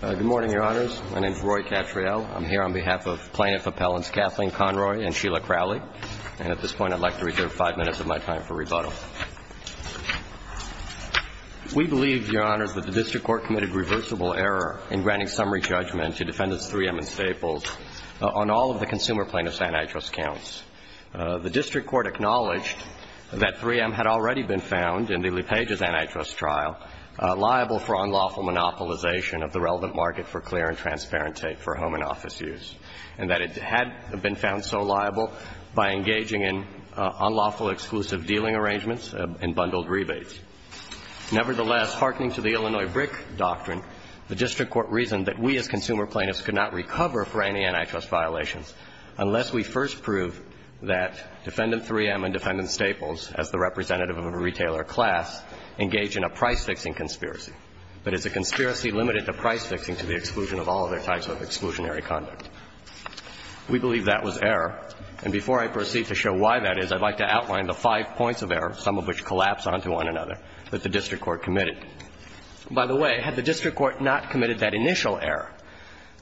Good morning, Your Honors. My name is Roy Cattrall. I'm here on behalf of plaintiff appellants Kathleen Conroy and Sheila Crowley, and at this point I'd like to reserve five minutes of my time for rebuttal. We believe, Your Honors, that the district court committed reversible error in granting summary judgment to defendants 3M and Staples on all of the consumer plaintiffs' antitrust counts. The district court acknowledged that 3M had already been found in the LePage's antitrust trial liable for unlawful monopolization of the relevant market for clear and transparent tape for home and office use, and that it had been found so liable by engaging in unlawful exclusive dealing arrangements and bundled rebates. Nevertheless, hearkening to the Illinois BRIC doctrine, the district court reasoned that we as consumer plaintiffs could not recover for any antitrust violations unless we first prove that Defendant 3M and Defendant Staples, as the representative of a retailer class, engage in a price-fixing conspiracy. But is a conspiracy limited to price-fixing to the exclusion of all other types of exclusionary conduct? We believe that was error, and before I proceed to show why that is, I'd like to outline the five points of error, some of which collapse onto one another, that the district court committed. By the way, had the district court not committed that initial error,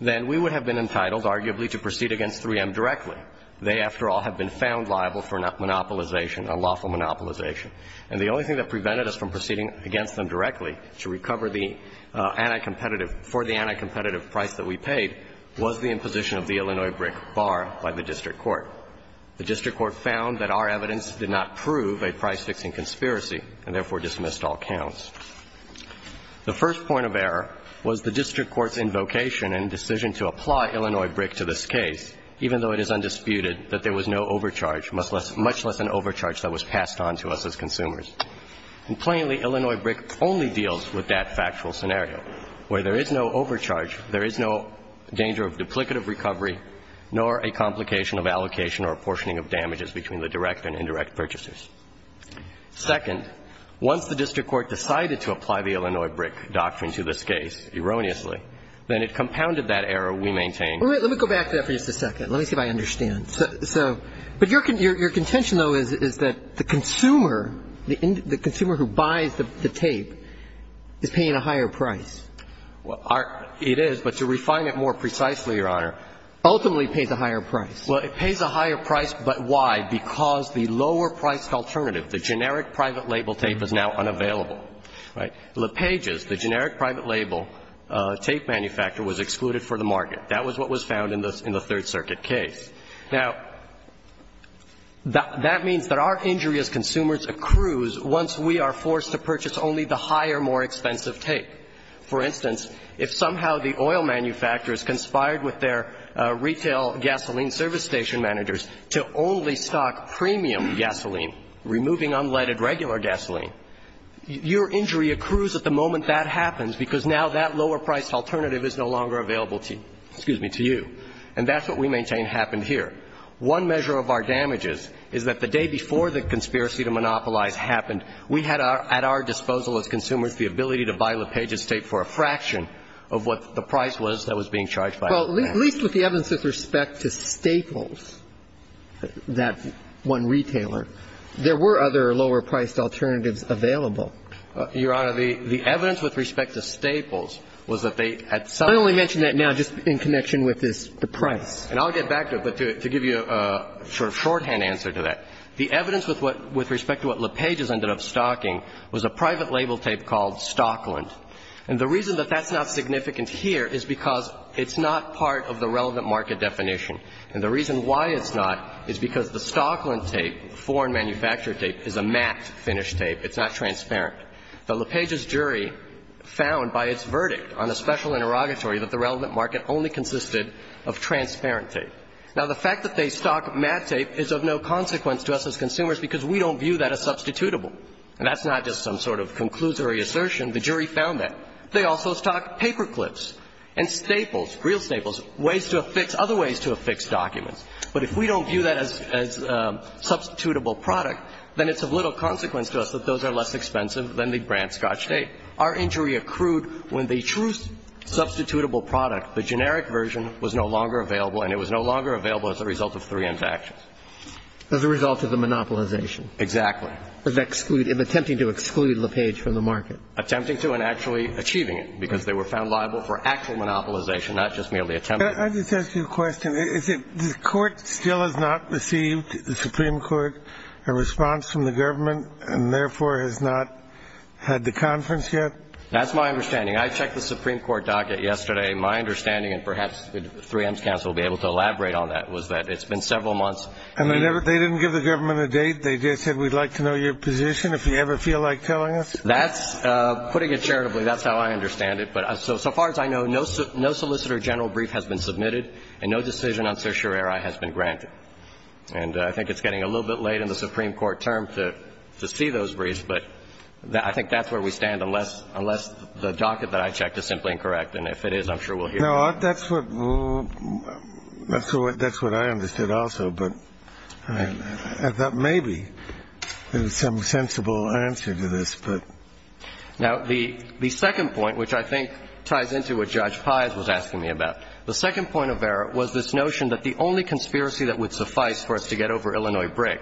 then we would have been entitled, arguably, to proceed against 3M directly. They, after all, have been found liable for monopolization, unlawful monopolization. And the only thing that prevented us from proceeding against them directly to recover the anticompetitive for the anticompetitive price that we paid was the imposition of the Illinois BRIC bar by the district court. The district court found that our evidence did not prove a price-fixing conspiracy and therefore dismissed all counts. The first point of error was the district court's invocation and decision to apply Illinois BRIC to this case, even though it is undisputed that there was no overcharge, much less an overcharge that was passed on to us as consumers. And plainly, Illinois BRIC only deals with that factual scenario, where there is no overcharge, there is no danger of duplicative recovery, nor a complication of allocation or apportioning of damages between the direct and indirect purchasers. Second, once the district court decided to apply the Illinois BRIC doctrine to this case, erroneously, then it compounded that error we maintained. Let me go back to that for just a second. Let me see if I understand. So your contention, though, is that the consumer, the consumer who buys the tape, is paying a higher price. Well, it is, but to refine it more precisely, Your Honor, ultimately it pays a higher price. Well, it pays a higher price, but why? Because the lower-priced alternative, the generic private label tape, is now unavailable, right? LePage's, the generic private label tape manufacturer, was excluded for the market. That was what was found in the Third Circuit case. Now, that means that our injury as consumers accrues once we are forced to purchase only the higher, more expensive tape. For instance, if somehow the oil manufacturers conspired with their retail gasoline service station managers to only stock premium gasoline, removing unleaded regular gasoline, your injury accrues at the moment that happens, because now that lower-priced alternative is no longer available to you. And that's what we maintain happened here. One measure of our damages is that the day before the conspiracy to monopolize happened, we had at our disposal as consumers the ability to buy LePage's tape for a fraction of what the price was that was being charged by that man. Well, at least with the evidence with respect to Staples, that one retailer, there were other lower-priced alternatives available. Your Honor, the evidence with respect to Staples was that they, at some point of time I only mention that now just in connection with this price. And I'll get back to it, but to give you a sort of shorthand answer to that, the evidence with respect to what LePage's ended up stocking was a private label tape called Stockland. And the reason that that's not significant here is because it's not part of the relevant market definition. And the reason why it's not is because the Stockland tape, foreign-manufactured tape, is a matte-finished tape. It's not transparent. The LePage's jury found by its verdict on a special interrogatory that the relevant market only consisted of transparent tape. Now, the fact that they stock matte tape is of no consequence to us as consumers because we don't view that as substitutable. And that's not just some sort of conclusory assertion. The jury found that. They also stocked paperclips and Staples, real Staples, ways to affix, other ways to affix documents. But if we don't view that as a substitutable product, then it's of little consequence to us that those are less expensive than the brand-scotch tape. Our injury accrued when the true substitutable product, the generic version, was no longer available, and it was no longer available as a result of three infractions. As a result of the monopolization. Exactly. Of attempt to exclude LePage from the market. Attempting to and actually achieving it, because they were found liable for actual monopolization, not just merely attempted. Can I just ask you a question? Is it the court still has not received the Supreme Court a response from the government, and therefore has not had the conference yet? That's my understanding. I checked the Supreme Court docket yesterday. My understanding, and perhaps 3M's counsel will be able to elaborate on that, was that it's been several months. And they didn't give the government a date? They just said, we'd like to know your position, if you ever feel like telling us? That's, putting it charitably, that's how I understand it. But so far as I know, no solicitor general brief has been submitted, and no decision on certiorari has been granted. And I think it's getting a little bit late in the Supreme Court term to see those briefs, but I think that's where we stand, unless the docket that I checked is No, that's what, that's what I understood also, but I thought maybe there was some sensible answer to this, but. Now, the second point, which I think ties into what Judge Pys was asking me about. The second point of error was this notion that the only conspiracy that would suffice for us to get over Illinois Brick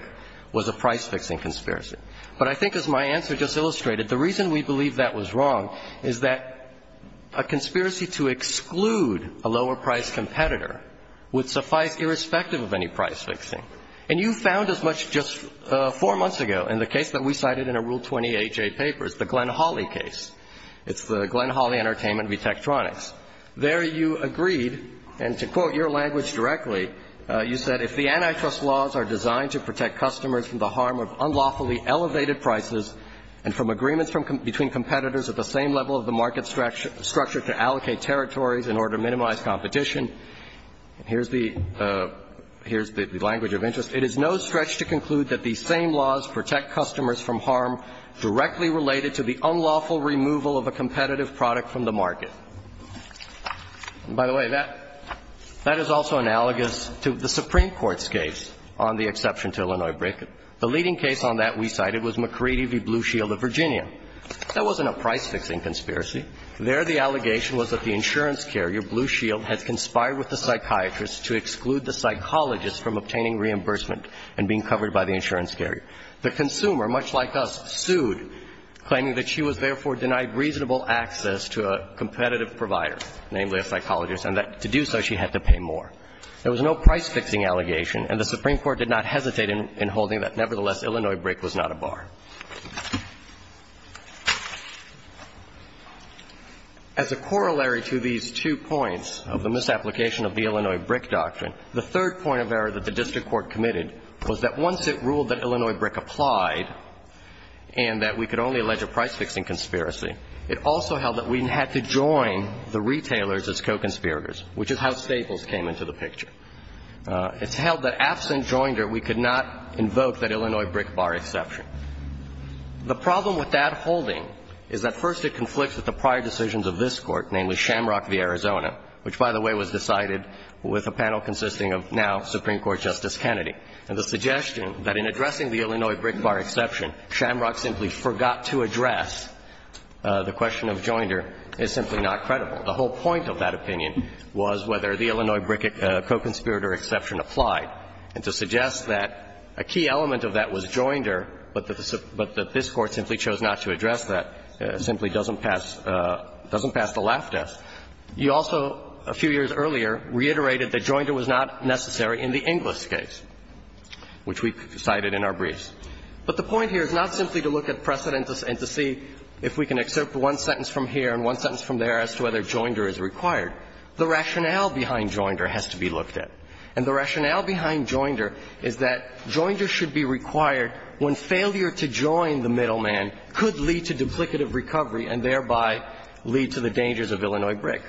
was a price-fixing conspiracy. But I think, as my answer just illustrated, the reason we believe that was wrong is that a conspiracy to exclude a lower-priced competitor would suffice irrespective of any price-fixing. And you found as much just four months ago in the case that we cited in a Rule 20AJ paper, it's the Glenn Hawley case. It's the Glenn Hawley Entertainment v. Tektronix. There you agreed, and to quote your language directly, you said, if the antitrust laws are designed to protect customers from the harm of unlawfully elevated prices and from agreements from, between competitors at the same level of the market structure to allocate territories in order to minimize competition. Here's the language of interest. It is no stretch to conclude that these same laws protect customers from harm directly related to the unlawful removal of a competitive product from the market. And, by the way, that is also analogous to the Supreme Court's case on the exception to Illinois Brick. The leading case on that we cited was McCready v. Blue Shield of Virginia. That wasn't a price-fixing conspiracy. There the allegation was that the insurance carrier, Blue Shield, had conspired with the psychiatrist to exclude the psychologist from obtaining reimbursement and being covered by the insurance carrier. The consumer, much like us, sued, claiming that she was therefore denied reasonable access to a competitive provider, namely a psychologist, and that to do so she had to pay more. There was no price-fixing allegation, and the Supreme Court did not hesitate in holding that, nevertheless, Illinois Brick was not a bar. As a corollary to these two points of the misapplication of the Illinois Brick doctrine, the third point of error that the district court committed was that once it ruled that Illinois Brick applied and that we could only allege a price-fixing conspiracy, it also held that we had to join the retailers as co-conspirators, which is how Staples came into the picture. It's held that absent joinder, we could not invoke that Illinois Brick bar exception. The problem with that holding is that first it conflicts with the prior decisions of this Court, namely Shamrock v. Arizona, which, by the way, was decided with a panel consisting of now Supreme Court Justice Kennedy. And the suggestion that in addressing the Illinois Brick bar exception, Shamrock simply forgot to address the question of joinder is simply not credible. The whole point of that opinion was whether the Illinois Brick co-conspirator exception applied. And to suggest that a key element of that was joinder, but that this Court simply chose not to address that simply doesn't pass the laugh test. You also, a few years earlier, reiterated that joinder was not necessary in the Inglis case, which we cited in our briefs. But the point here is not simply to look at precedent and to see if we can excerpt one sentence from here and one sentence from there as to whether joinder is required. The rationale behind joinder has to be looked at. And the rationale behind joinder is that joinder should be required when failure to join the middleman could lead to duplicative recovery and thereby lead to the dangers of Illinois Brick.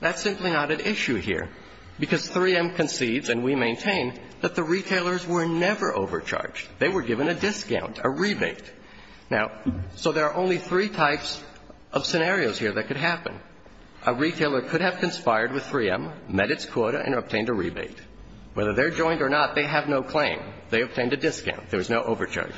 That's simply not at issue here, because 3M concedes, and we maintain, that the retailers were never overcharged. They were given a discount, a rebate. Now, so there are only three types of scenarios here that could happen. A retailer could have conspired with 3M, met its quota, and obtained a rebate. Whether they're joined or not, they have no claim. They obtained a discount. There was no overcharge.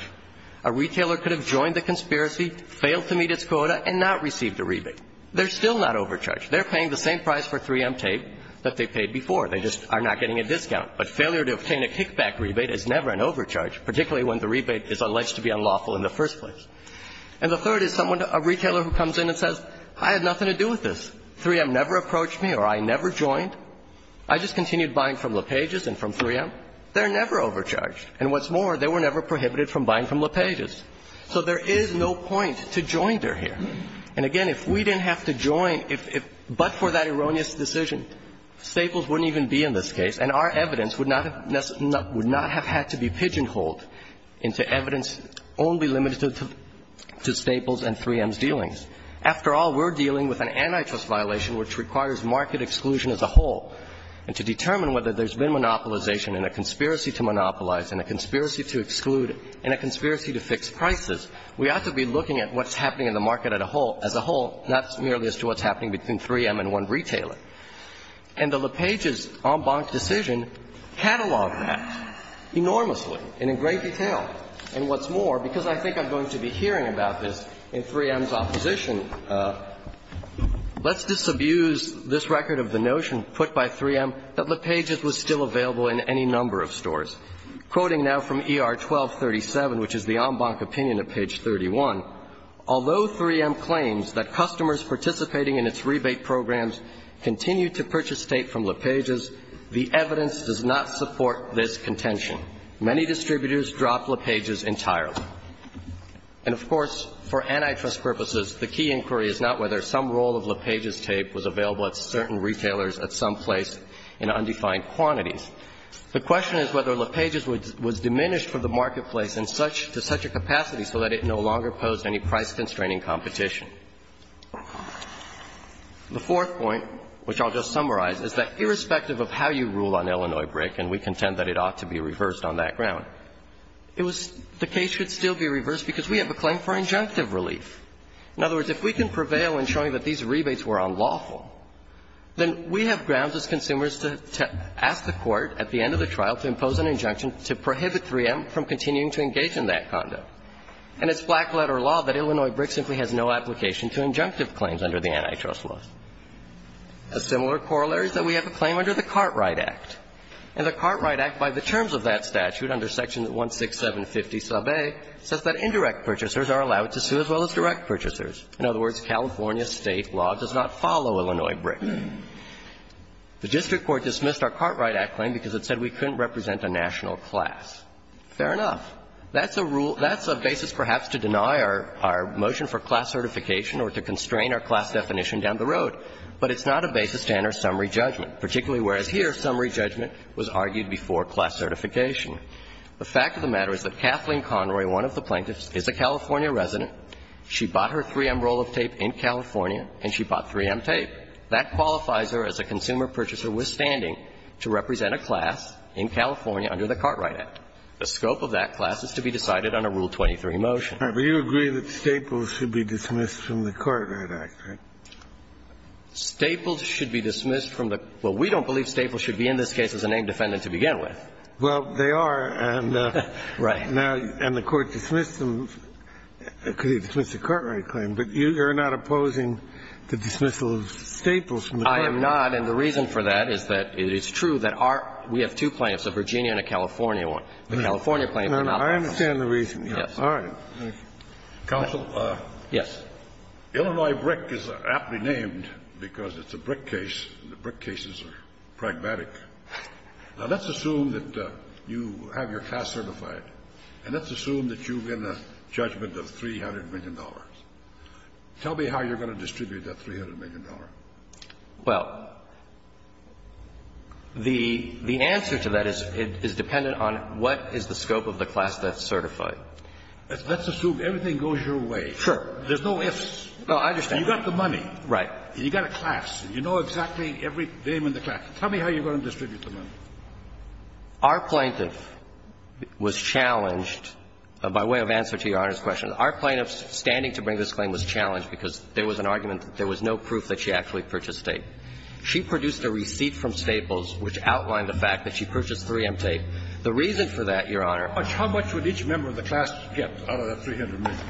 A retailer could have joined the conspiracy, failed to meet its quota, and not received a rebate. They're still not overcharged. They're paying the same price for 3M tape that they paid before. They just are not getting a discount. But failure to obtain a kickback rebate is never an overcharge, particularly when the rebate is alleged to be unlawful in the first place. And the third is someone, a retailer who comes in and says, I had nothing to do with this. 3M never approached me or I never joined. I just continued buying from LePage's and from 3M. They're never overcharged. And what's more, they were never prohibited from buying from LePage's. So there is no point to joinder here. And again, if we didn't have to join, if we didn't have to join, but for that erroneous decision, Staples wouldn't even be in this case, and our evidence would not have had to be pigeonholed into evidence only limited to Staples and 3M's dealings. After all, we're dealing with an antitrust violation which requires market exclusion as a whole. And to determine whether there's been monopolization and a conspiracy to monopolize and a conspiracy to exclude and a conspiracy to fix prices, we ought to be looking at what's happening in the market as a whole, not merely as to what's happening between 3M and one retailer. And the LePage's en banc decision cataloged that enormously and in great detail. And what's more, because I think I'm going to be hearing about this in 3M's opposition, let's disabuse this record of the notion put by 3M that LePage's was still available in any number of stores. Quoting now from ER 1237, which is the en banc opinion at page 31, although 3M claims that customers participating in its rebate programs continue to purchase tape from LePage's, the evidence does not support this contention. Many distributors dropped LePage's entirely. And of course, for antitrust purposes, the key inquiry is not whether some roll of LePage's tape was available at certain retailers at some place in undefined quantities. The question is whether LePage's was diminished from the marketplace to such a capacity so that it no longer posed any price-constraining competition. The fourth point, which I'll just summarize, is that irrespective of how you rule on Illinois brick, and we contend that it ought to be reversed on that ground, it was the case should still be reversed because we have a claim for injunctive relief. In other words, if we can prevail in showing that these rebates were unlawful, then we have grounds as consumers to ask the Court at the end of the trial to impose an injunction to prohibit 3M from continuing to engage in that conduct. And it's black-letter law that Illinois brick simply has no application to injunctive claims under the antitrust law. A similar corollary is that we have a claim under the Cartwright Act. And the Cartwright Act, by the terms of that statute, under Section 16750a, says that indirect purchasers are allowed to sue as well as direct purchasers. In other words, California State law does not follow Illinois brick. The district court dismissed our Cartwright Act claim because it said we couldn't represent a national class. Fair enough. That's a rule – that's a basis perhaps to deny our motion for class certification or to constrain our class definition down the road. But it's not a basis to enter summary judgment, particularly whereas here, summary judgment was argued before class certification. The fact of the matter is that Kathleen Conroy, one of the plaintiffs, is a California resident. She bought her 3M roll of tape in California, and she bought 3M tape. That qualifies her as a consumer purchaser withstanding to represent a class in California under the Cartwright Act. The scope of that class is to be decided on a Rule 23 motion. But you agree that Staples should be dismissed from the Cartwright Act, right? Staples should be dismissed from the – well, we don't believe Staples should be in this case as a named defendant to begin with. Well, they are, and the Court dismissed them because they dismissed the Cartwright claim. But you're not opposing the dismissal of Staples from the Cartwright Act. I am not, and the reason for that is that it is true that our – we have two plaintiffs, a Virginia and a California one. The California claim cannot be dismissed. I understand the reason. Yes. All right. Counsel? Yes. Illinois BRIC is aptly named because it's a BRIC case, and the BRIC cases are pragmatic. Now, let's assume that you have your class certified, and let's assume that you win a judgment of $300 million. Tell me how you're going to distribute that $300 million. Well, the answer to that is dependent on what is the scope of the class that's certified. Let's assume everything goes your way. Sure. There's no ifs. No, I understand. You've got the money. Right. You've got a class. You know exactly every name in the class. Tell me how you're going to distribute the money. Our plaintiff was challenged by way of answer to Your Honor's question. Our plaintiff's standing to bring this claim was challenged because there was an argument that there was no proof that she actually purchased tape. She produced a receipt from Staples which outlined the fact that she purchased 3M tape. The reason for that, Your Honor How much would each member of the class get out of that $300 million?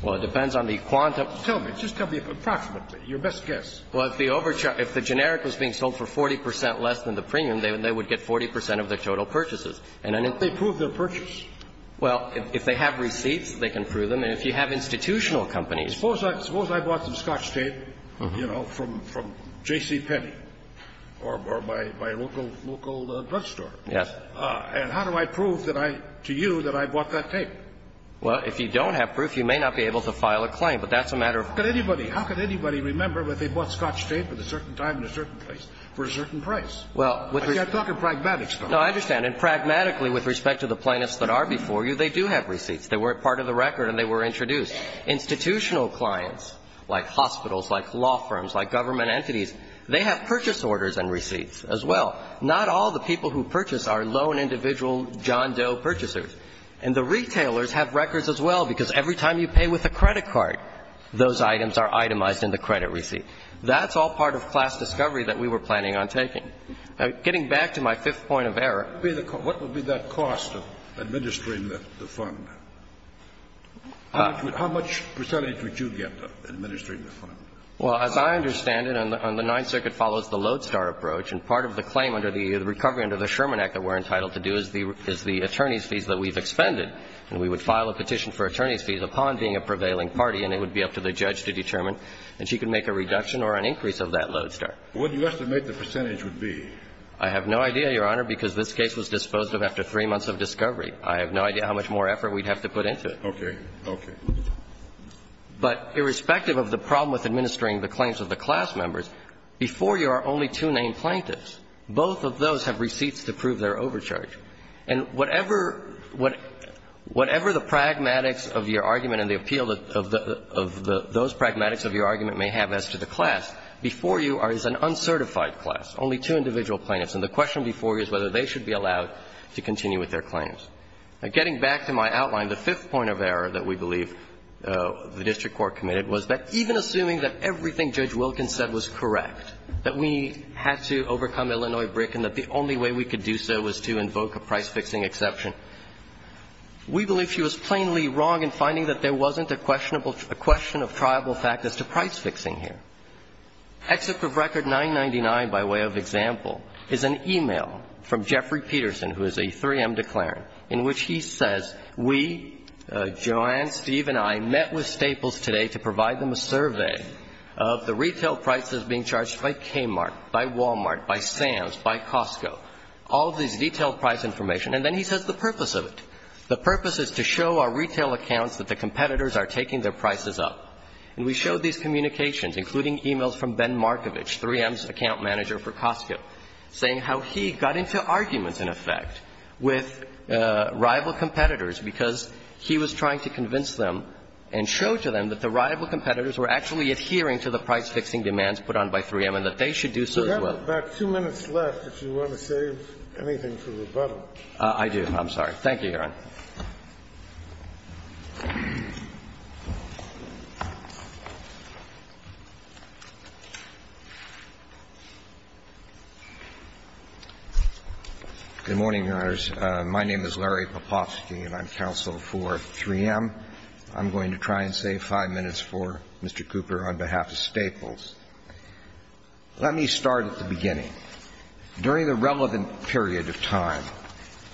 Well, it depends on the quantum. Tell me. Just tell me approximately, your best guess. Well, if the generic was being sold for 40 percent less than the premium, they would get 40 percent of the total purchases. And then if they prove their purchase? Well, if they have receipts, they can prove them. And if you have institutional companies Suppose I bought some Scotch tape. You know, from J.C. Penney or my local drugstore. Yes. And how do I prove that I, to you, that I bought that tape? Well, if you don't have proof, you may not be able to file a claim. But that's a matter of How could anybody remember that they bought Scotch tape at a certain time and a certain place for a certain price? Well, with I'm talking pragmatics. No, I understand. And pragmatically, with respect to the plaintiffs that are before you, they do have receipts. They were part of the record and they were introduced. Institutional clients, like hospitals, like law firms, like government entities, they have purchase orders and receipts as well. Not all the people who purchase are lone individual John Doe purchasers. And the retailers have records as well, because every time you pay with a credit card, those items are itemized in the credit receipt. That's all part of class discovery that we were planning on taking. Getting back to my fifth point of error. What would be the cost of administering the fund? How much percentage would you get to administering the fund? Well, as I understand it, on the Ninth Circuit follows the lodestar approach. And part of the claim under the Recovery Under the Sherman Act that we're entitled to do is the attorney's fees that we've expended. And we would file a petition for attorney's fees upon being a prevailing party, and it would be up to the judge to determine that she could make a reduction or an increase of that lodestar. What do you estimate the percentage would be? I have no idea, Your Honor, because this case was disposed of after three months of discovery. I have no idea how much more effort we'd have to put into it. Okay. Okay. But irrespective of the problem with administering the claims of the class members, before you are only two named plaintiffs. Both of those have receipts to prove their overcharge. And whatever the pragmatics of your argument and the appeal of those pragmatics of your argument may have as to the class, before you is an uncertified class, only two individual plaintiffs. And the question before you is whether they should be allowed to continue with their claims. Now, getting back to my outline, the fifth point of error that we believe the district court committed was that even assuming that everything Judge Wilkins said was correct, that we had to overcome Illinois brick and that the only way we could do so was to invoke a price-fixing exception, we believe she was plainly wrong in finding that there wasn't a questionable question of triable fact as to price-fixing here. Exit Proof Record 999, by way of example, is an e-mail from Jeffrey Peterson, who is a 3M declarant, in which he says, we, Joanne, Steve, and I, met with Staples today to provide them a survey of the retail prices being charged by Kmart, by Wal-Mart, by Sam's, by Costco, all of these detailed price information. And then he says the purpose of it. The purpose is to show our retail accounts that the competitors are taking their prices up. And we showed these communications, including e-mails from Ben Markovich, 3M's account manager for Costco, saying how he got into arguments, in effect, with rival competitors because he was trying to convince them and show to them that the rival competitors were actually adhering to the price-fixing demands put on by 3M and that they should do so as well. Kennedy, about two minutes left, if you want to save anything for rebuttal. Thank you, Your Honor. Good morning, Your Honors. My name is Larry Popofsky, and I'm counsel for 3M. I'm going to try and save five minutes for Mr. Cooper on behalf of Staples. Let me start at the beginning. During the relevant period of time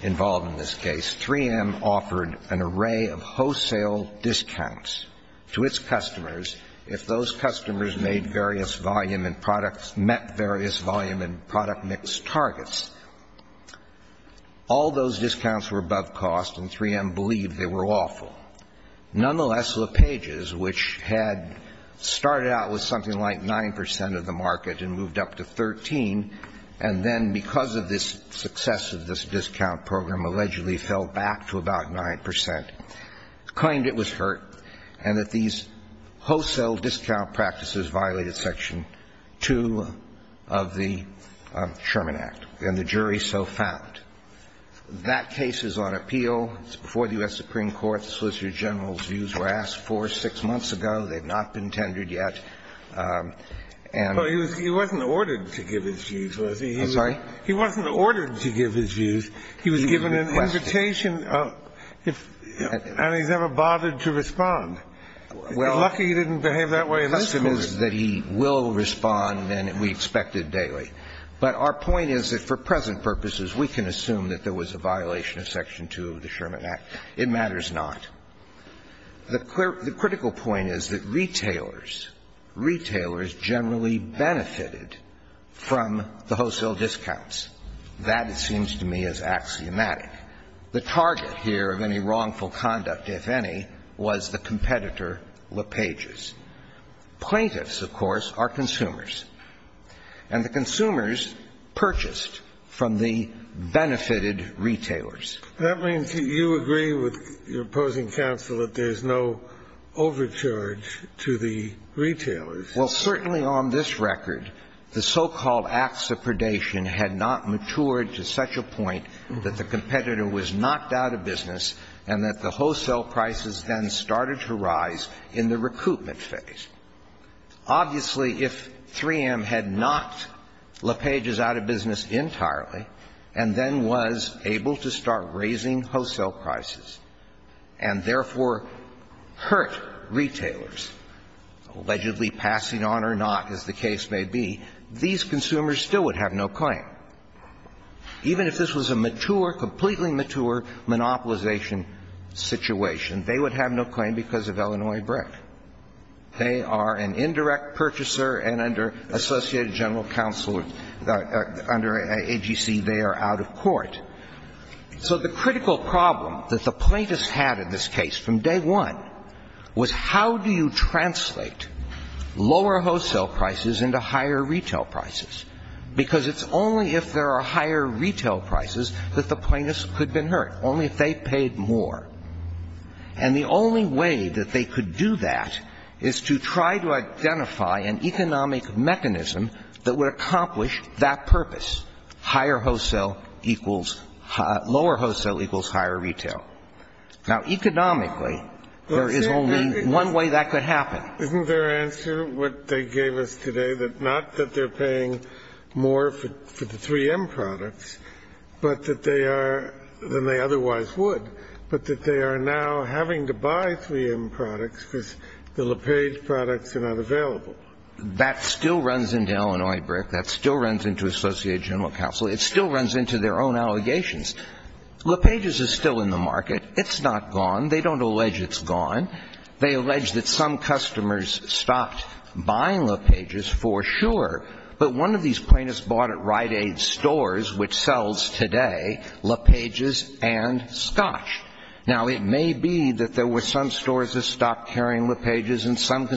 involved in this case, 3M offered an array of wholesale discounts to its customers if those customers made various volume and products, met various volume and product mix targets. All those discounts were above cost, and 3M believed they were awful. Nonetheless, LePage's, which had started out with something like 9% of the market and moved up to 13, and then, because of this success of this discount program, allegedly fell back to about 9%, claimed it was hurt and that these wholesale discount practices violated Section 2 of the Sherman Act, and the jury so found. That case is on appeal. It's before the U.S. Supreme Court. The Solicitor General's views were asked for six months ago. They've not been tendered yet. And he wasn't ordered to give his views, was he? I'm sorry? He wasn't ordered to give his views. He was given an invitation, and he's never bothered to respond. You're lucky he didn't behave that way in this case. Well, the question is that he will respond, and we expect it daily. But our point is that for present purposes, we can assume that there was a violation of Section 2 of the Sherman Act. It matters not. The critical point is that retailers generally benefited from the wholesale discounts. That, it seems to me, is axiomatic. The target here of any wrongful conduct, if any, was the competitor, LePage's. Plaintiffs, of course, are consumers. And the consumers purchased from the benefited retailers. That means that you agree with your opposing counsel that there's no overcharge to the retailers. Well, certainly on this record, the so-called acts of predation had not matured to such a point that the competitor was knocked out of business and that the wholesale prices then started to rise in the recoupment phase. Obviously, if 3M had knocked LePage's out of business entirely and then was able to start raising wholesale prices and, therefore, hurt retailers, allegedly passing on or not, as the case may be, these consumers still would have no claim. Even if this was a mature, completely mature, monopolization situation, they would have no claim because of Illinois BRIC. They are an indirect purchaser, and under Associated General Counsel, under AGC, they are out of court. So the critical problem that the plaintiffs had in this case from day one was how do you translate lower wholesale prices into higher retail prices? Because it's only if there are higher retail prices that the plaintiffs could be hurt, only if they paid more. And the only way that they could do that is to try to identify an economic mechanism that would accomplish that purpose. Higher wholesale equals – lower wholesale equals higher retail. Now, economically, there is only one way that could happen. Isn't their answer, what they gave us today, that not that they're paying more for the 3M products, but that they are – than they otherwise would, but that they are now having to buy 3M products because the LePage products are not available? That still runs into Illinois BRIC. That still runs into Associated General Counsel. It still runs into their own allegations. LePage is still in the market. It's not gone. They don't allege it's gone. They allege that some customers stopped buying LePages for sure, but one of these plaintiffs bought at Rite Aid stores, which sells today LePages and scotch. Now, it may be that there were some stores that stopped carrying LePages, and some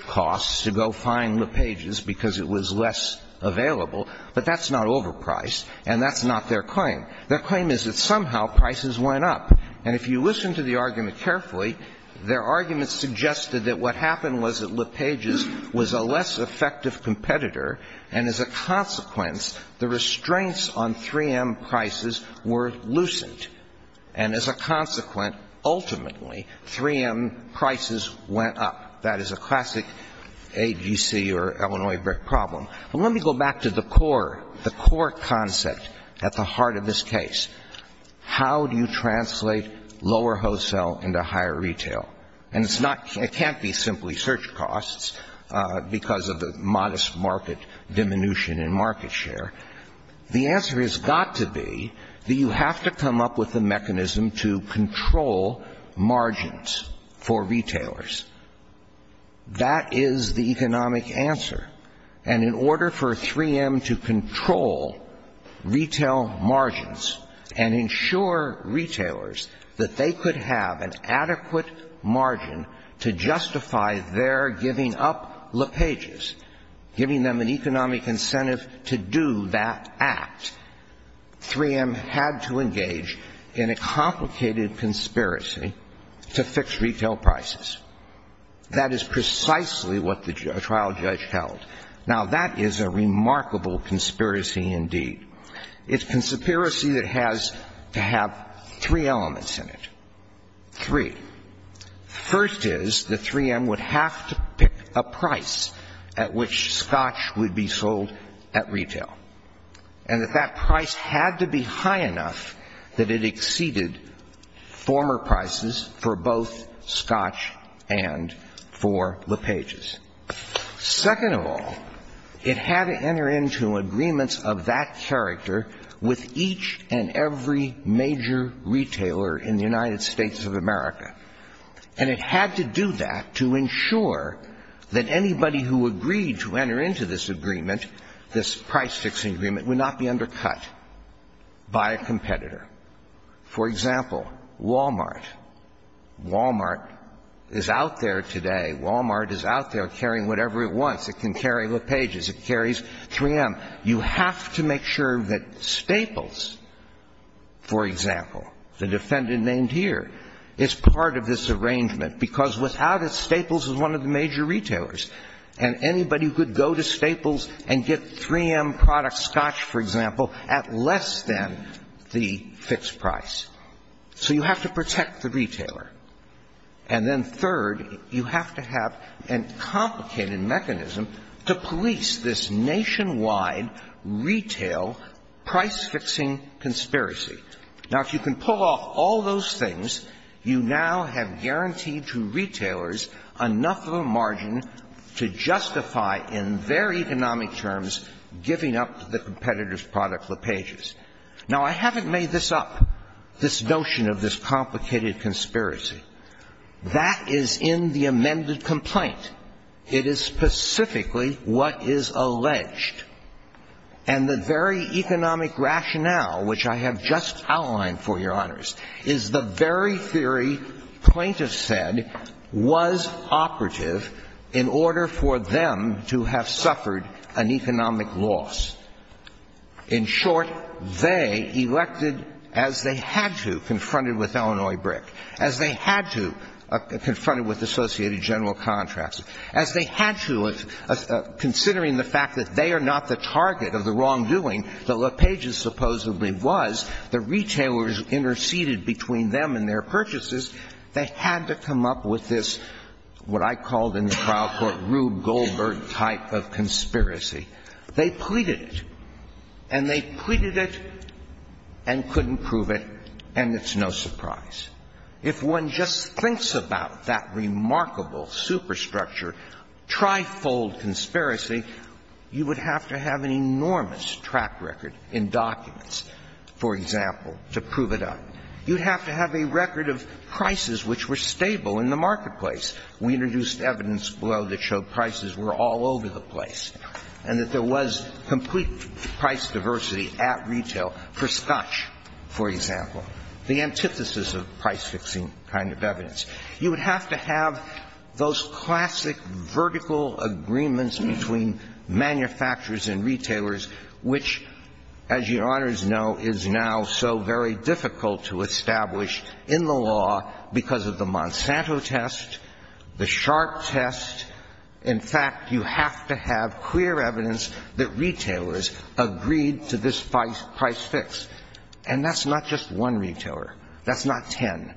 costs to go find LePages because it was less available, but that's not overpriced, and that's not their claim. Their claim is that somehow prices went up. And if you listen to the argument carefully, their argument suggested that what happened was that LePages was a less effective competitor, and as a consequence, the restraints on 3M prices were lucent. And as a consequence, ultimately, 3M prices went up. That is a classic AGC or Illinois brick problem. But let me go back to the core concept at the heart of this case. How do you translate lower wholesale into higher retail? And it can't be simply search costs because of the modest market diminution in market share. The answer has got to be that you have to come up with a mechanism to That is the economic answer. And in order for 3M to control retail margins and ensure retailers that they could have an adequate margin to justify their giving up LePages, giving them an economic incentive to do that act, 3M had to engage in a complicated conspiracy to fix retail prices. That is precisely what the trial judge held. Now, that is a remarkable conspiracy indeed. It's a conspiracy that has to have three elements in it, three. First is that 3M would have to pick a price at which Scotch would be sold at retail. And if that price had to be high enough that it exceeded former prices for both Scotch and for LePages. Second of all, it had to enter into agreements of that character with each and every major retailer in the United States of America. And it had to do that to ensure that anybody who agreed to enter into this agreement, this price fixing agreement, would not be undercut by a competitor. For example, Walmart, Walmart is out there today. Walmart is out there carrying whatever it wants. It can carry LePages, it carries 3M. You have to make sure that Staples, for example, the defendant named here, is part of this arrangement. Because without it, Staples is one of the major retailers. And anybody who could go to Staples and get 3M product Scotch, for example, would be fixed price. So you have to protect the retailer. And then third, you have to have a complicated mechanism to police this nationwide retail price fixing conspiracy. Now, if you can pull off all those things, you now have guaranteed to retailers enough of a margin to justify in their economic terms giving up the competitor's product, LePages. Now, I haven't made this up, this notion of this complicated conspiracy. That is in the amended complaint. It is specifically what is alleged. And the very economic rationale, which I have just outlined for your honors, is the very theory plaintiffs said was operative in order for them to have suffered an economic loss. In short, they elected, as they had to, confronted with Illinois Brick, as they had to, confronted with Associated General Contracts, as they had to, considering the fact that they are not the target of the wrongdoing that LePages supposedly was, the retailers interceded between them and their purchases, they had to come up with this, what I called in the trial court, Rube Goldberg type of conspiracy. They pleaded it. And they pleaded it and couldn't prove it, and it's no surprise. If one just thinks about that remarkable superstructure, trifold conspiracy, you would have to have an enormous track record in documents, for example, to prove it up. You'd have to have a record of prices which were stable in the marketplace. We introduced evidence below that showed prices were all over the place. And that there was complete price diversity at retail, for scotch, for example. The antithesis of price fixing kind of evidence. You would have to have those classic vertical agreements between manufacturers and retailers, which, as Your Honors know, is now so very difficult to establish in the law because of the Monsanto test, the Sharpe test. In fact, you have to have clear evidence that retailers agreed to this price fix. And that's not just one retailer. That's not ten.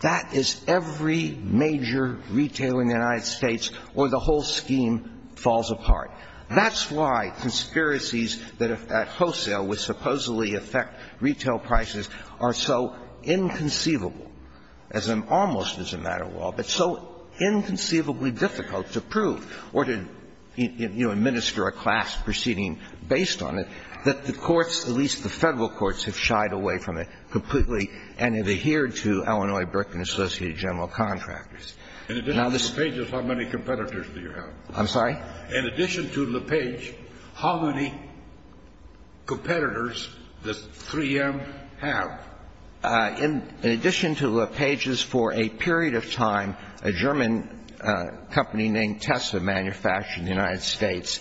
That is every major retailer in the United States, or the whole scheme falls apart. That's why conspiracies at wholesale would supposedly affect retail prices are so inconceivable, as almost as a matter of law, but so inconceivably difficult to prove or to, you know, administer a class proceeding based on it, that the courts, at least the Federal courts, have shied away from it completely and have adhered to Illinois Berkman Associated General Contractors. Now, this is the case of how many competitors do you have? I'm sorry? In addition to LePage, how many competitors does 3M have? In addition to LePage's, for a period of time, a German company named Tessa manufactured in the United States,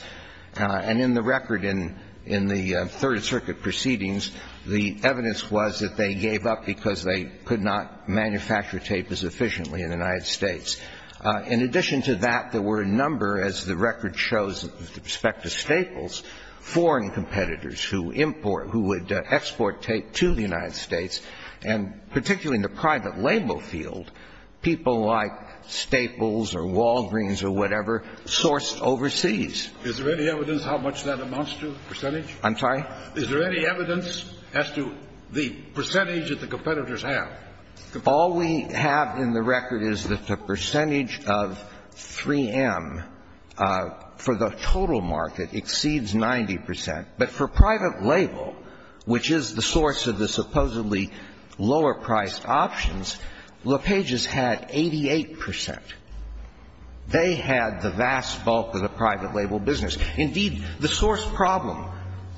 and in the record in the Third Circuit proceedings, the evidence was that they gave up because they could not manufacture tape as efficiently in the United States. In addition to that, there were a number, as the record shows with respect to Staples, foreign competitors who import, who would export tape to the United States, and particularly in the private label field, people like Staples or Walgreens or whatever, sourced overseas. Is there any evidence how much that amounts to, the percentage? I'm sorry? Is there any evidence as to the percentage that the competitors have? All we have in the record is that the percentage of 3M for the total market exceeds 90 percent. But for private label, which is the source of the supposedly lower-priced options, LePage's had 88 percent. They had the vast bulk of the private label business. Indeed, the source problem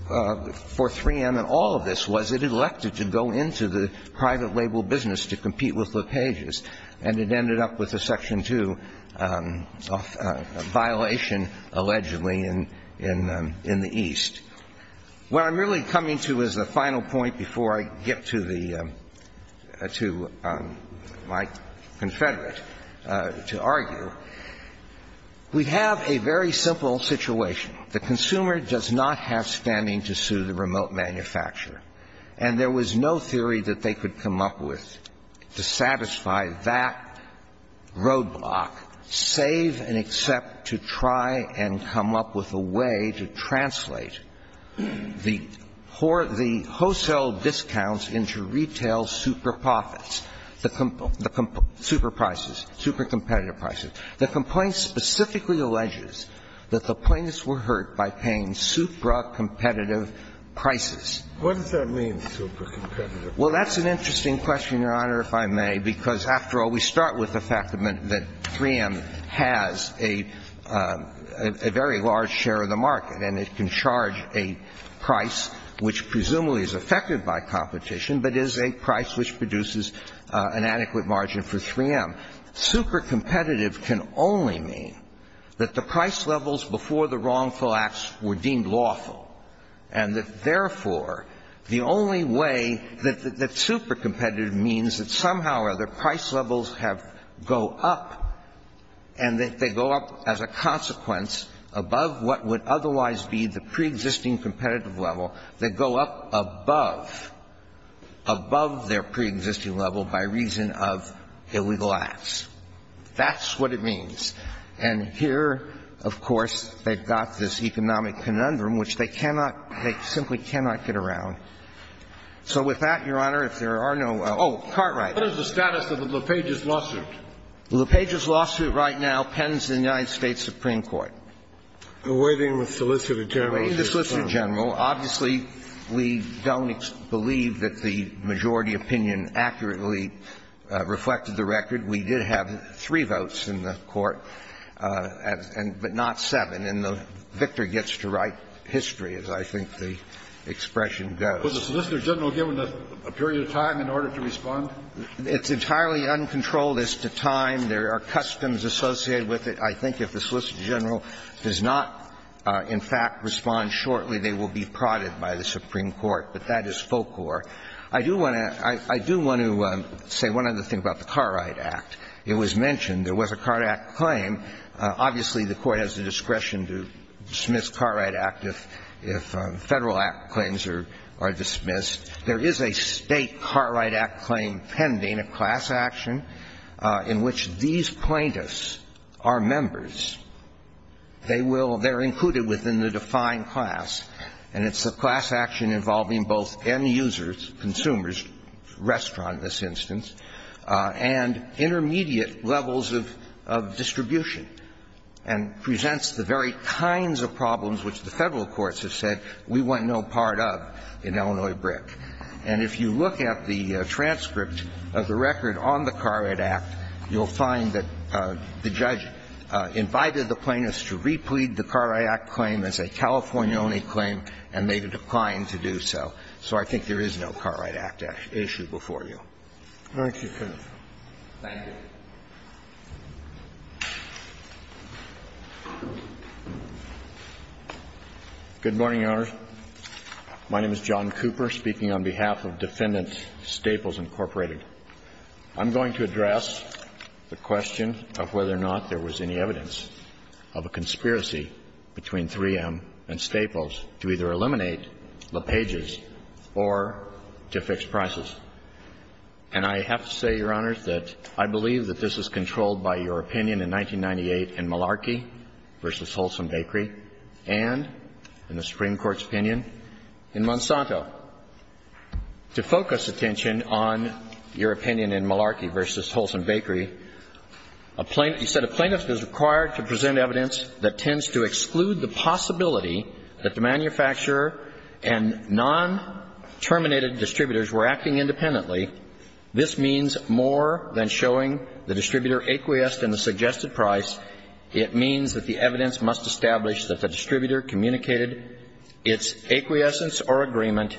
for 3M in all of this was it elected to go into the private label business to compete with LePage's, and it ended up with a Section 2 violation, allegedly, in the East. What I'm really coming to as a final point before I get to the ‑‑ to my confederate to argue, we have a very simple situation. The consumer does not have standing to sue the remote manufacturer. And there was no theory that they could come up with to satisfy that roadblock, save and accept to try and come up with a way to translate the wholesale discounts into retail super profits, the super prices, super competitive prices. The complaint specifically alleges that the plaintiffs were hurt by paying supra competitive prices. What does that mean, supra competitive? Well, that's an interesting question, Your Honor, if I may, because, after all, we start with the fact that 3M has a very large share of the market, and it can charge a price which presumably is affected by competition, but is a price which produces an adequate margin for 3M. Supra competitive can only mean that the price levels before the wrongful acts were deemed lawful, and that, therefore, the only way that supra competitive means that somehow or other price levels have go up, and that they go up as a consequence above what would otherwise be the preexisting competitive level, they go up above above their preexisting level by reason of illegal acts. That's what it means. And here, of course, they've got this economic conundrum which they cannot, they simply cannot get around. So with that, Your Honor, if there are no other questions. Oh, Cartwright. What is the status of the LuPage's lawsuit? The LuPage's lawsuit right now pens in the United States Supreme Court. Awaiting the solicitor general. Awaiting the solicitor general. Obviously, we don't believe that the majority opinion accurately reflected the record. We did have three votes in the court, but not seven, and the victor gets to write history, as I think the expression goes. Was the solicitor general given a period of time in order to respond? It's entirely uncontrolled as to time. There are customs associated with it. I think if the solicitor general does not, in fact, respond shortly, they will be prodded by the Supreme Court. But that is folklore. I do want to say one other thing about the Cartwright Act. It was mentioned there was a Cartwright Act claim. Obviously, the Court has the discretion to dismiss Cartwright Act if Federal Act claims are dismissed. There is a state Cartwright Act claim pending, a class action, in which these plaintiffs are members. They will be included within the defined class, and it's a class action involving both end users, consumers, restaurant in this instance, and intermediate levels of distribution, and presents the very kinds of problems which the Federal courts have said we want no part of in Illinois BRIC. And if you look at the transcript of the record on the Cartwright Act, you'll find that the judge invited the plaintiffs to replead the Cartwright Act claim as a California only claim, and they declined to do so. So I think there is no Cartwright Act issue before you. Thank you, Counsel. Thank you. Good morning, Your Honors. My name is John Cooper, speaking on behalf of Defendants Staples, Incorporated. I'm going to address the question of whether or not there was any evidence of a conspiracy between 3M and Staples to either eliminate LePages or to fix prices. And I have to say, Your Honors, that I believe that this is controlled by your opinion in 1998 in Malarkey v. Holson Bakery and in the Supreme Court's opinion in Monsanto. To focus attention on your opinion in Malarkey v. Holson Bakery, a plaintiff is required to present evidence that tends to exclude the possibility that the manufacturer and non-terminated distributors were acting independently. This means more than showing the distributor acquiesced in the suggested price. It means that the evidence must establish that the distributor communicated its acquiescence or agreement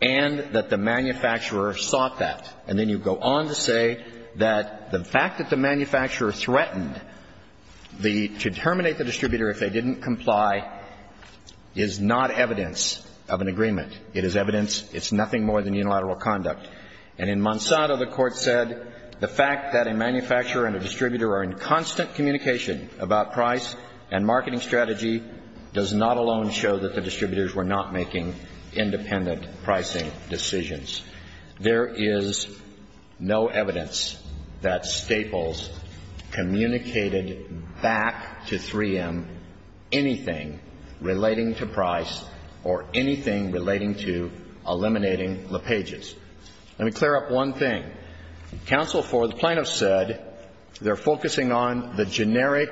and that the manufacturer sought that. And then you go on to say that the fact that the manufacturer threatened to terminate the distributor if they didn't comply is not evidence of an agreement. It is evidence. It's nothing more than unilateral conduct. And in Monsanto, the Court said the fact that a manufacturer and a distributor are in constant communication about price and marketing strategy does not alone show that the distributors were not making independent pricing decisions. There is no evidence that Staples communicated back to 3M anything relating to price or anything relating to eliminating LePage's. Let me clear up one thing. Counsel for the plaintiff said they're focusing on the generic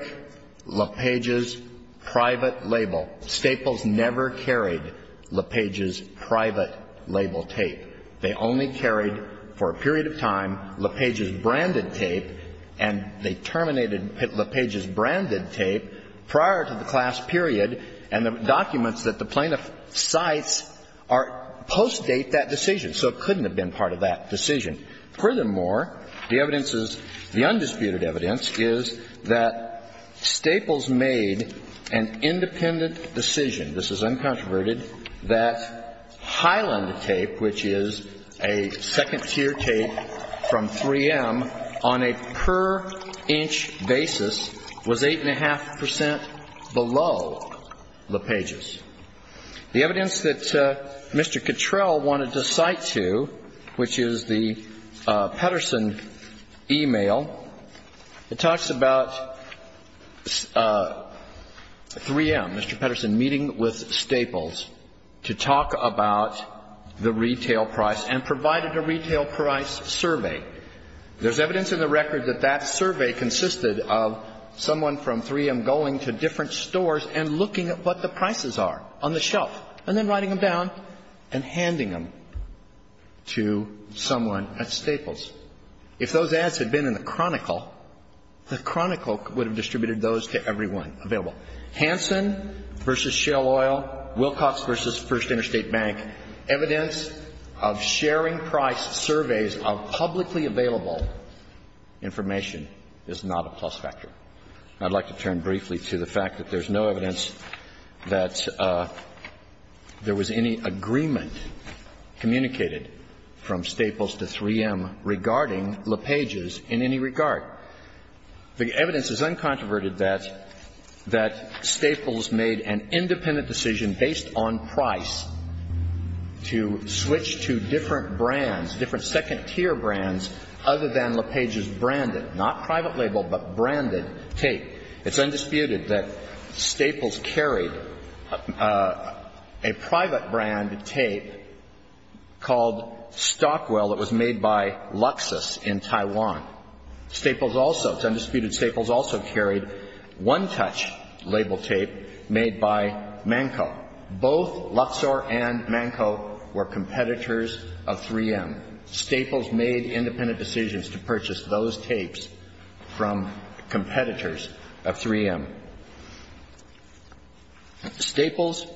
LePage's private label. Staples never carried LePage's private label tape. They only carried for a period of time LePage's branded tape and they terminated LePage's branded tape prior to the class period and the documents that the plaintiff cites postdate that decision. So it couldn't have been part of that decision. Furthermore, the evidence is, the undisputed evidence is that Staples made an independent decision, this is uncontroverted, that Highland Tape, which is a second-tier tape from 3M, on a per-inch basis was 8.5% below LePage's. The evidence that Mr. Cottrell wanted to cite to, which is the Pedersen email, it talks about 3M, Mr. Pedersen, meeting with Staples to talk about the retail price and provided a retail price survey. There's evidence in the record that that survey consisted of someone from 3M going to different stores and looking at what the prices are on the shelf and then writing to Staples. If those ads had been in the Chronicle, the Chronicle would have distributed those to everyone available. Hansen v. Shell Oil, Wilcox v. First Interstate Bank, evidence of sharing price surveys of publicly available information is not a plus factor. I'd like to turn briefly to the fact that there's no evidence that there was any agreement communicated from Staples to 3M regarding LePage's in any regard. The evidence is uncontroverted that, that Staples made an independent decision based on price to switch to different brands, different second-tier brands other than LePage's branded, not private label, but branded tape. It's undisputed that Staples carried a private brand tape called Stockwell that was made by Luxus in Taiwan. Staples also, it's undisputed Staples also carried one-touch label tape made by Manco. Both Luxor and Manco were competitors of 3M. And Staples made independent decisions to purchase those tapes from competitors of 3M. Staples,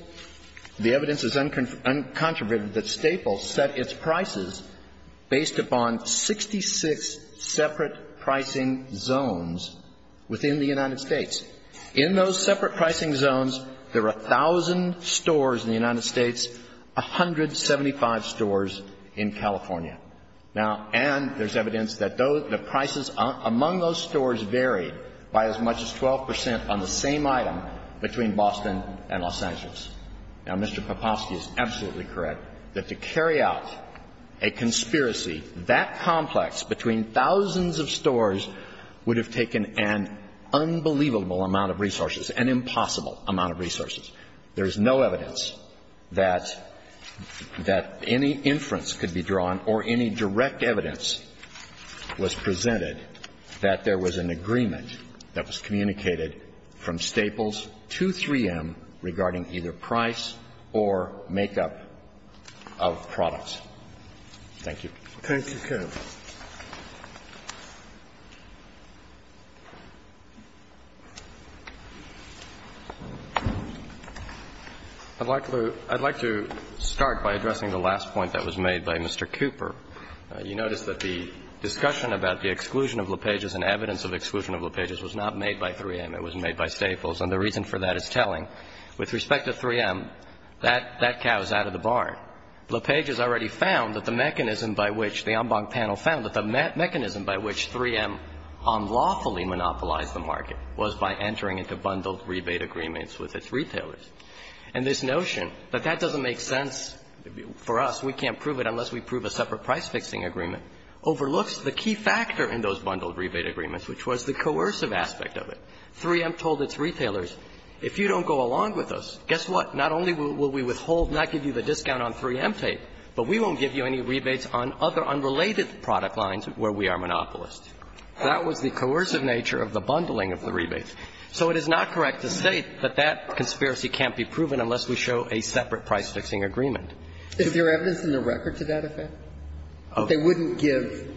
the evidence is uncontroverted that Staples set its prices based upon 66 separate pricing zones within the United States. In those separate pricing zones, there were 1,000 stores in the United States, 175 stores in California. Now, and there's evidence that those, the prices among those stores varied by as much as 12 percent on the same item between Boston and Los Angeles. Now, Mr. Papofsky is absolutely correct that to carry out a conspiracy that complex between thousands of stores would have taken an unbelievable amount of resources, an impossible amount of resources. There's no evidence that any inference could be drawn or any direct evidence was presented that there was an agreement that was communicated from Staples to 3M regarding either price or makeup of products. Thank you. Thank you, counsel. I'd like to start by addressing the last point that was made by Mr. Cooper. You notice that the discussion about the exclusion of LePage's and evidence of exclusion of LePage's was not made by 3M. It was made by Staples. And the reason for that is telling. LePage has already found that the mechanism by which the en banc panel found that the mechanism by which 3M unlawfully monopolized the market was by entering into bundled rebate agreements with its retailers. And this notion that that doesn't make sense for us, we can't prove it unless we prove a separate price-fixing agreement, overlooks the key factor in those bundled rebate agreements, which was the coercive aspect of it. 3M told its retailers, if you don't go along with us, guess what? Not only will we withhold, not give you the discount on 3M tape, but we won't give you any rebates on other unrelated product lines where we are monopolists. That was the coercive nature of the bundling of the rebates. So it is not correct to say that that conspiracy can't be proven unless we show a separate price-fixing agreement. Is there evidence in the record to that effect? They wouldn't give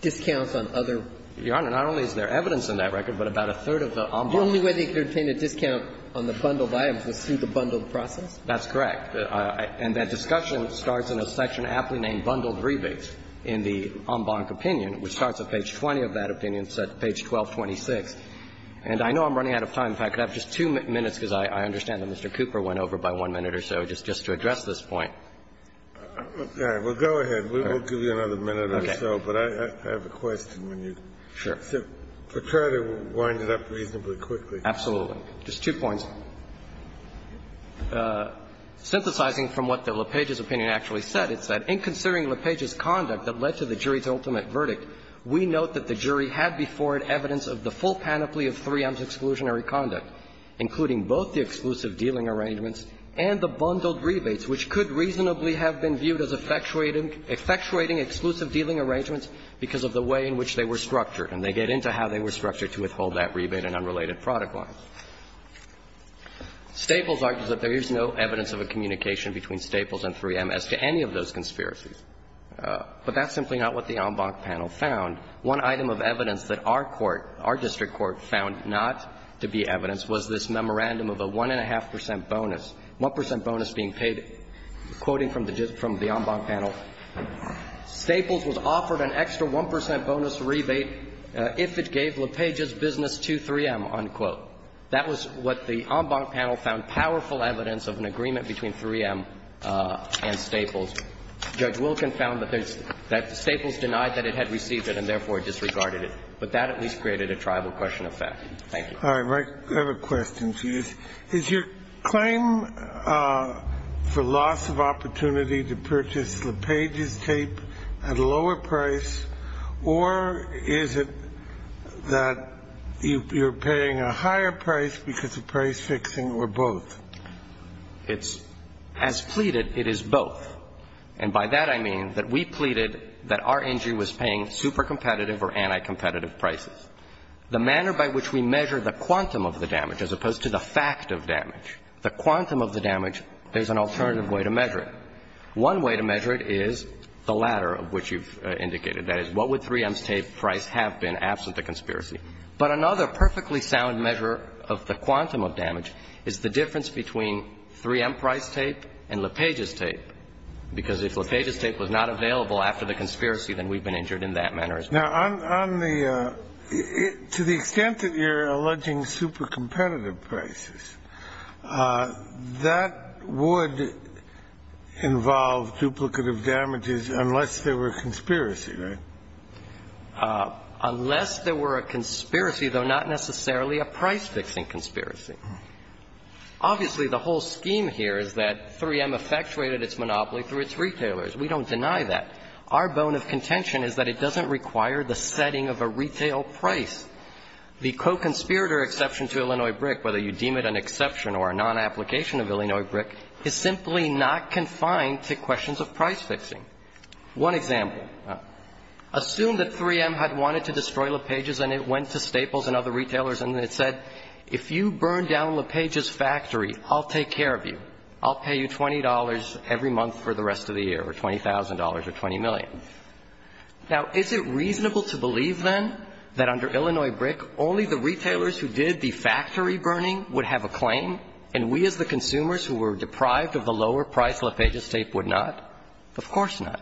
discounts on other. Your Honor, not only is there evidence in that record, but about a third of the en banc. The only way they could obtain a discount on the bundled items was through the bundled process? That's correct. And that discussion starts in a section aptly named bundled rebates in the en banc opinion, which starts at page 20 of that opinion, page 1226. And I know I'm running out of time. If I could have just two minutes, because I understand that Mr. Cooper went over by one minute or so, just to address this point. Okay. Well, go ahead. We will give you another minute or so. Okay. But I have a question. Sure. To try to wind it up reasonably quickly. Absolutely. Just two points. Synthesizing from what the LePage's opinion actually said, it said, In considering LePage's conduct that led to the jury's ultimate verdict, we note that the jury had before it evidence of the full panoply of 3M's exclusionary conduct, including both the exclusive dealing arrangements and the bundled rebates, which could reasonably have been viewed as effectuating exclusive dealing arrangements because of the way in which they were structured. And they get into how they were structured to withhold that rebate and unrelated product lines. Staples argues that there is no evidence of a communication between Staples and 3M as to any of those conspiracies. But that's simply not what the en banc panel found. One item of evidence that our court, our district court, found not to be evidence was this memorandum of a 1.5 percent bonus, 1 percent bonus being paid. Quoting from the en banc panel, Staples was offered an extra 1 percent bonus rebate if it gave LePage's business to 3M, unquote. That was what the en banc panel found powerful evidence of an agreement between 3M and Staples. Judge Wilkin found that Staples denied that it had received it and therefore disregarded it. But that at least created a tribal question of fact. Thank you. All right. I have a question, please. Is your claim for loss of opportunity to purchase LePage's tape at a lower price or is it that you're paying a higher price because of price fixing or both? As pleaded, it is both. And by that I mean that we pleaded that our injury was paying super competitive or anti-competitive prices. The manner by which we measure the quantum of the damage as opposed to the fact of damage, the quantum of the damage, there's an alternative way to measure it. One way to measure it is the latter of which you've indicated. That is, what would 3M's tape price have been absent the conspiracy? But another perfectly sound measure of the quantum of damage is the difference between 3M price tape and LePage's tape. Because if LePage's tape was not available after the conspiracy, then we've been injured in that manner as well. Now, to the extent that you're alleging super competitive prices, that would involve duplicative damages unless there were a conspiracy, right? Unless there were a conspiracy, though not necessarily a price fixing conspiracy. Obviously, the whole scheme here is that 3M effectuated its monopoly through its retailers. We don't deny that. Our bone of contention is that it doesn't require the setting of a retail price. The co-conspirator exception to Illinois BRIC, whether you deem it an exception or a non-application of Illinois BRIC, is simply not confined to questions of price fixing. One example. Assume that 3M had wanted to destroy LePage's and it went to Staples and other retailers and it said, if you burn down LePage's factory, I'll take care of you. I'll pay you $20 every month for the rest of the year or $20,000 or $20 million. Now, is it reasonable to believe, then, that under Illinois BRIC only the retailers who did the factory burning would have a claim and we as the consumers who were deprived of the lower price LePage's tape would not? Of course not.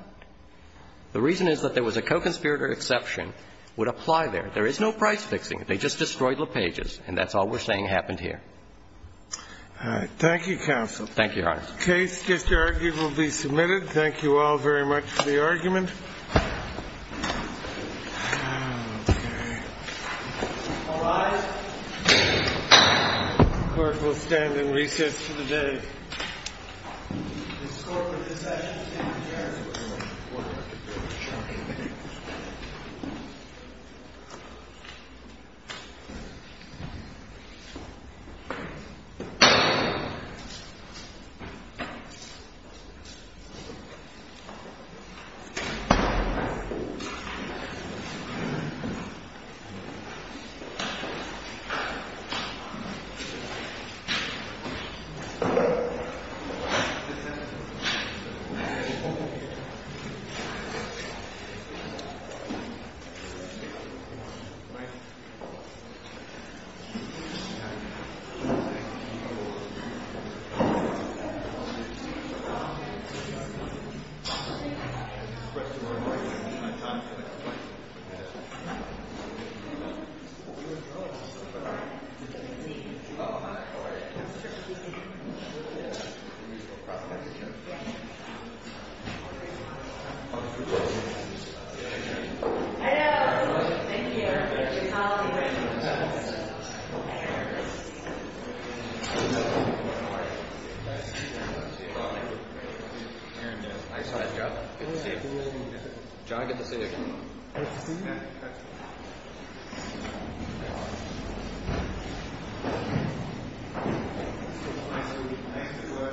The reason is that there was a co-conspirator exception would apply there. There is no price fixing. They just destroyed LePage's and that's all we're saying happened here. All right. Thank you, counsel. Thank you, Your Honor. The case just argued will be submitted. Thank you all very much for the argument. All rise. The court will stand and recess for the day. Thank you. Thank you. Hello. Thank you. How are you? Nice to see you. How are you? Nice to see you. See you all later. Good. How are you, man? Nice to see you again. John, good to see you. Good to see you, man. Hope to see you again. Thank you. Thank you. Nice to meet you. Thank you. Good luck.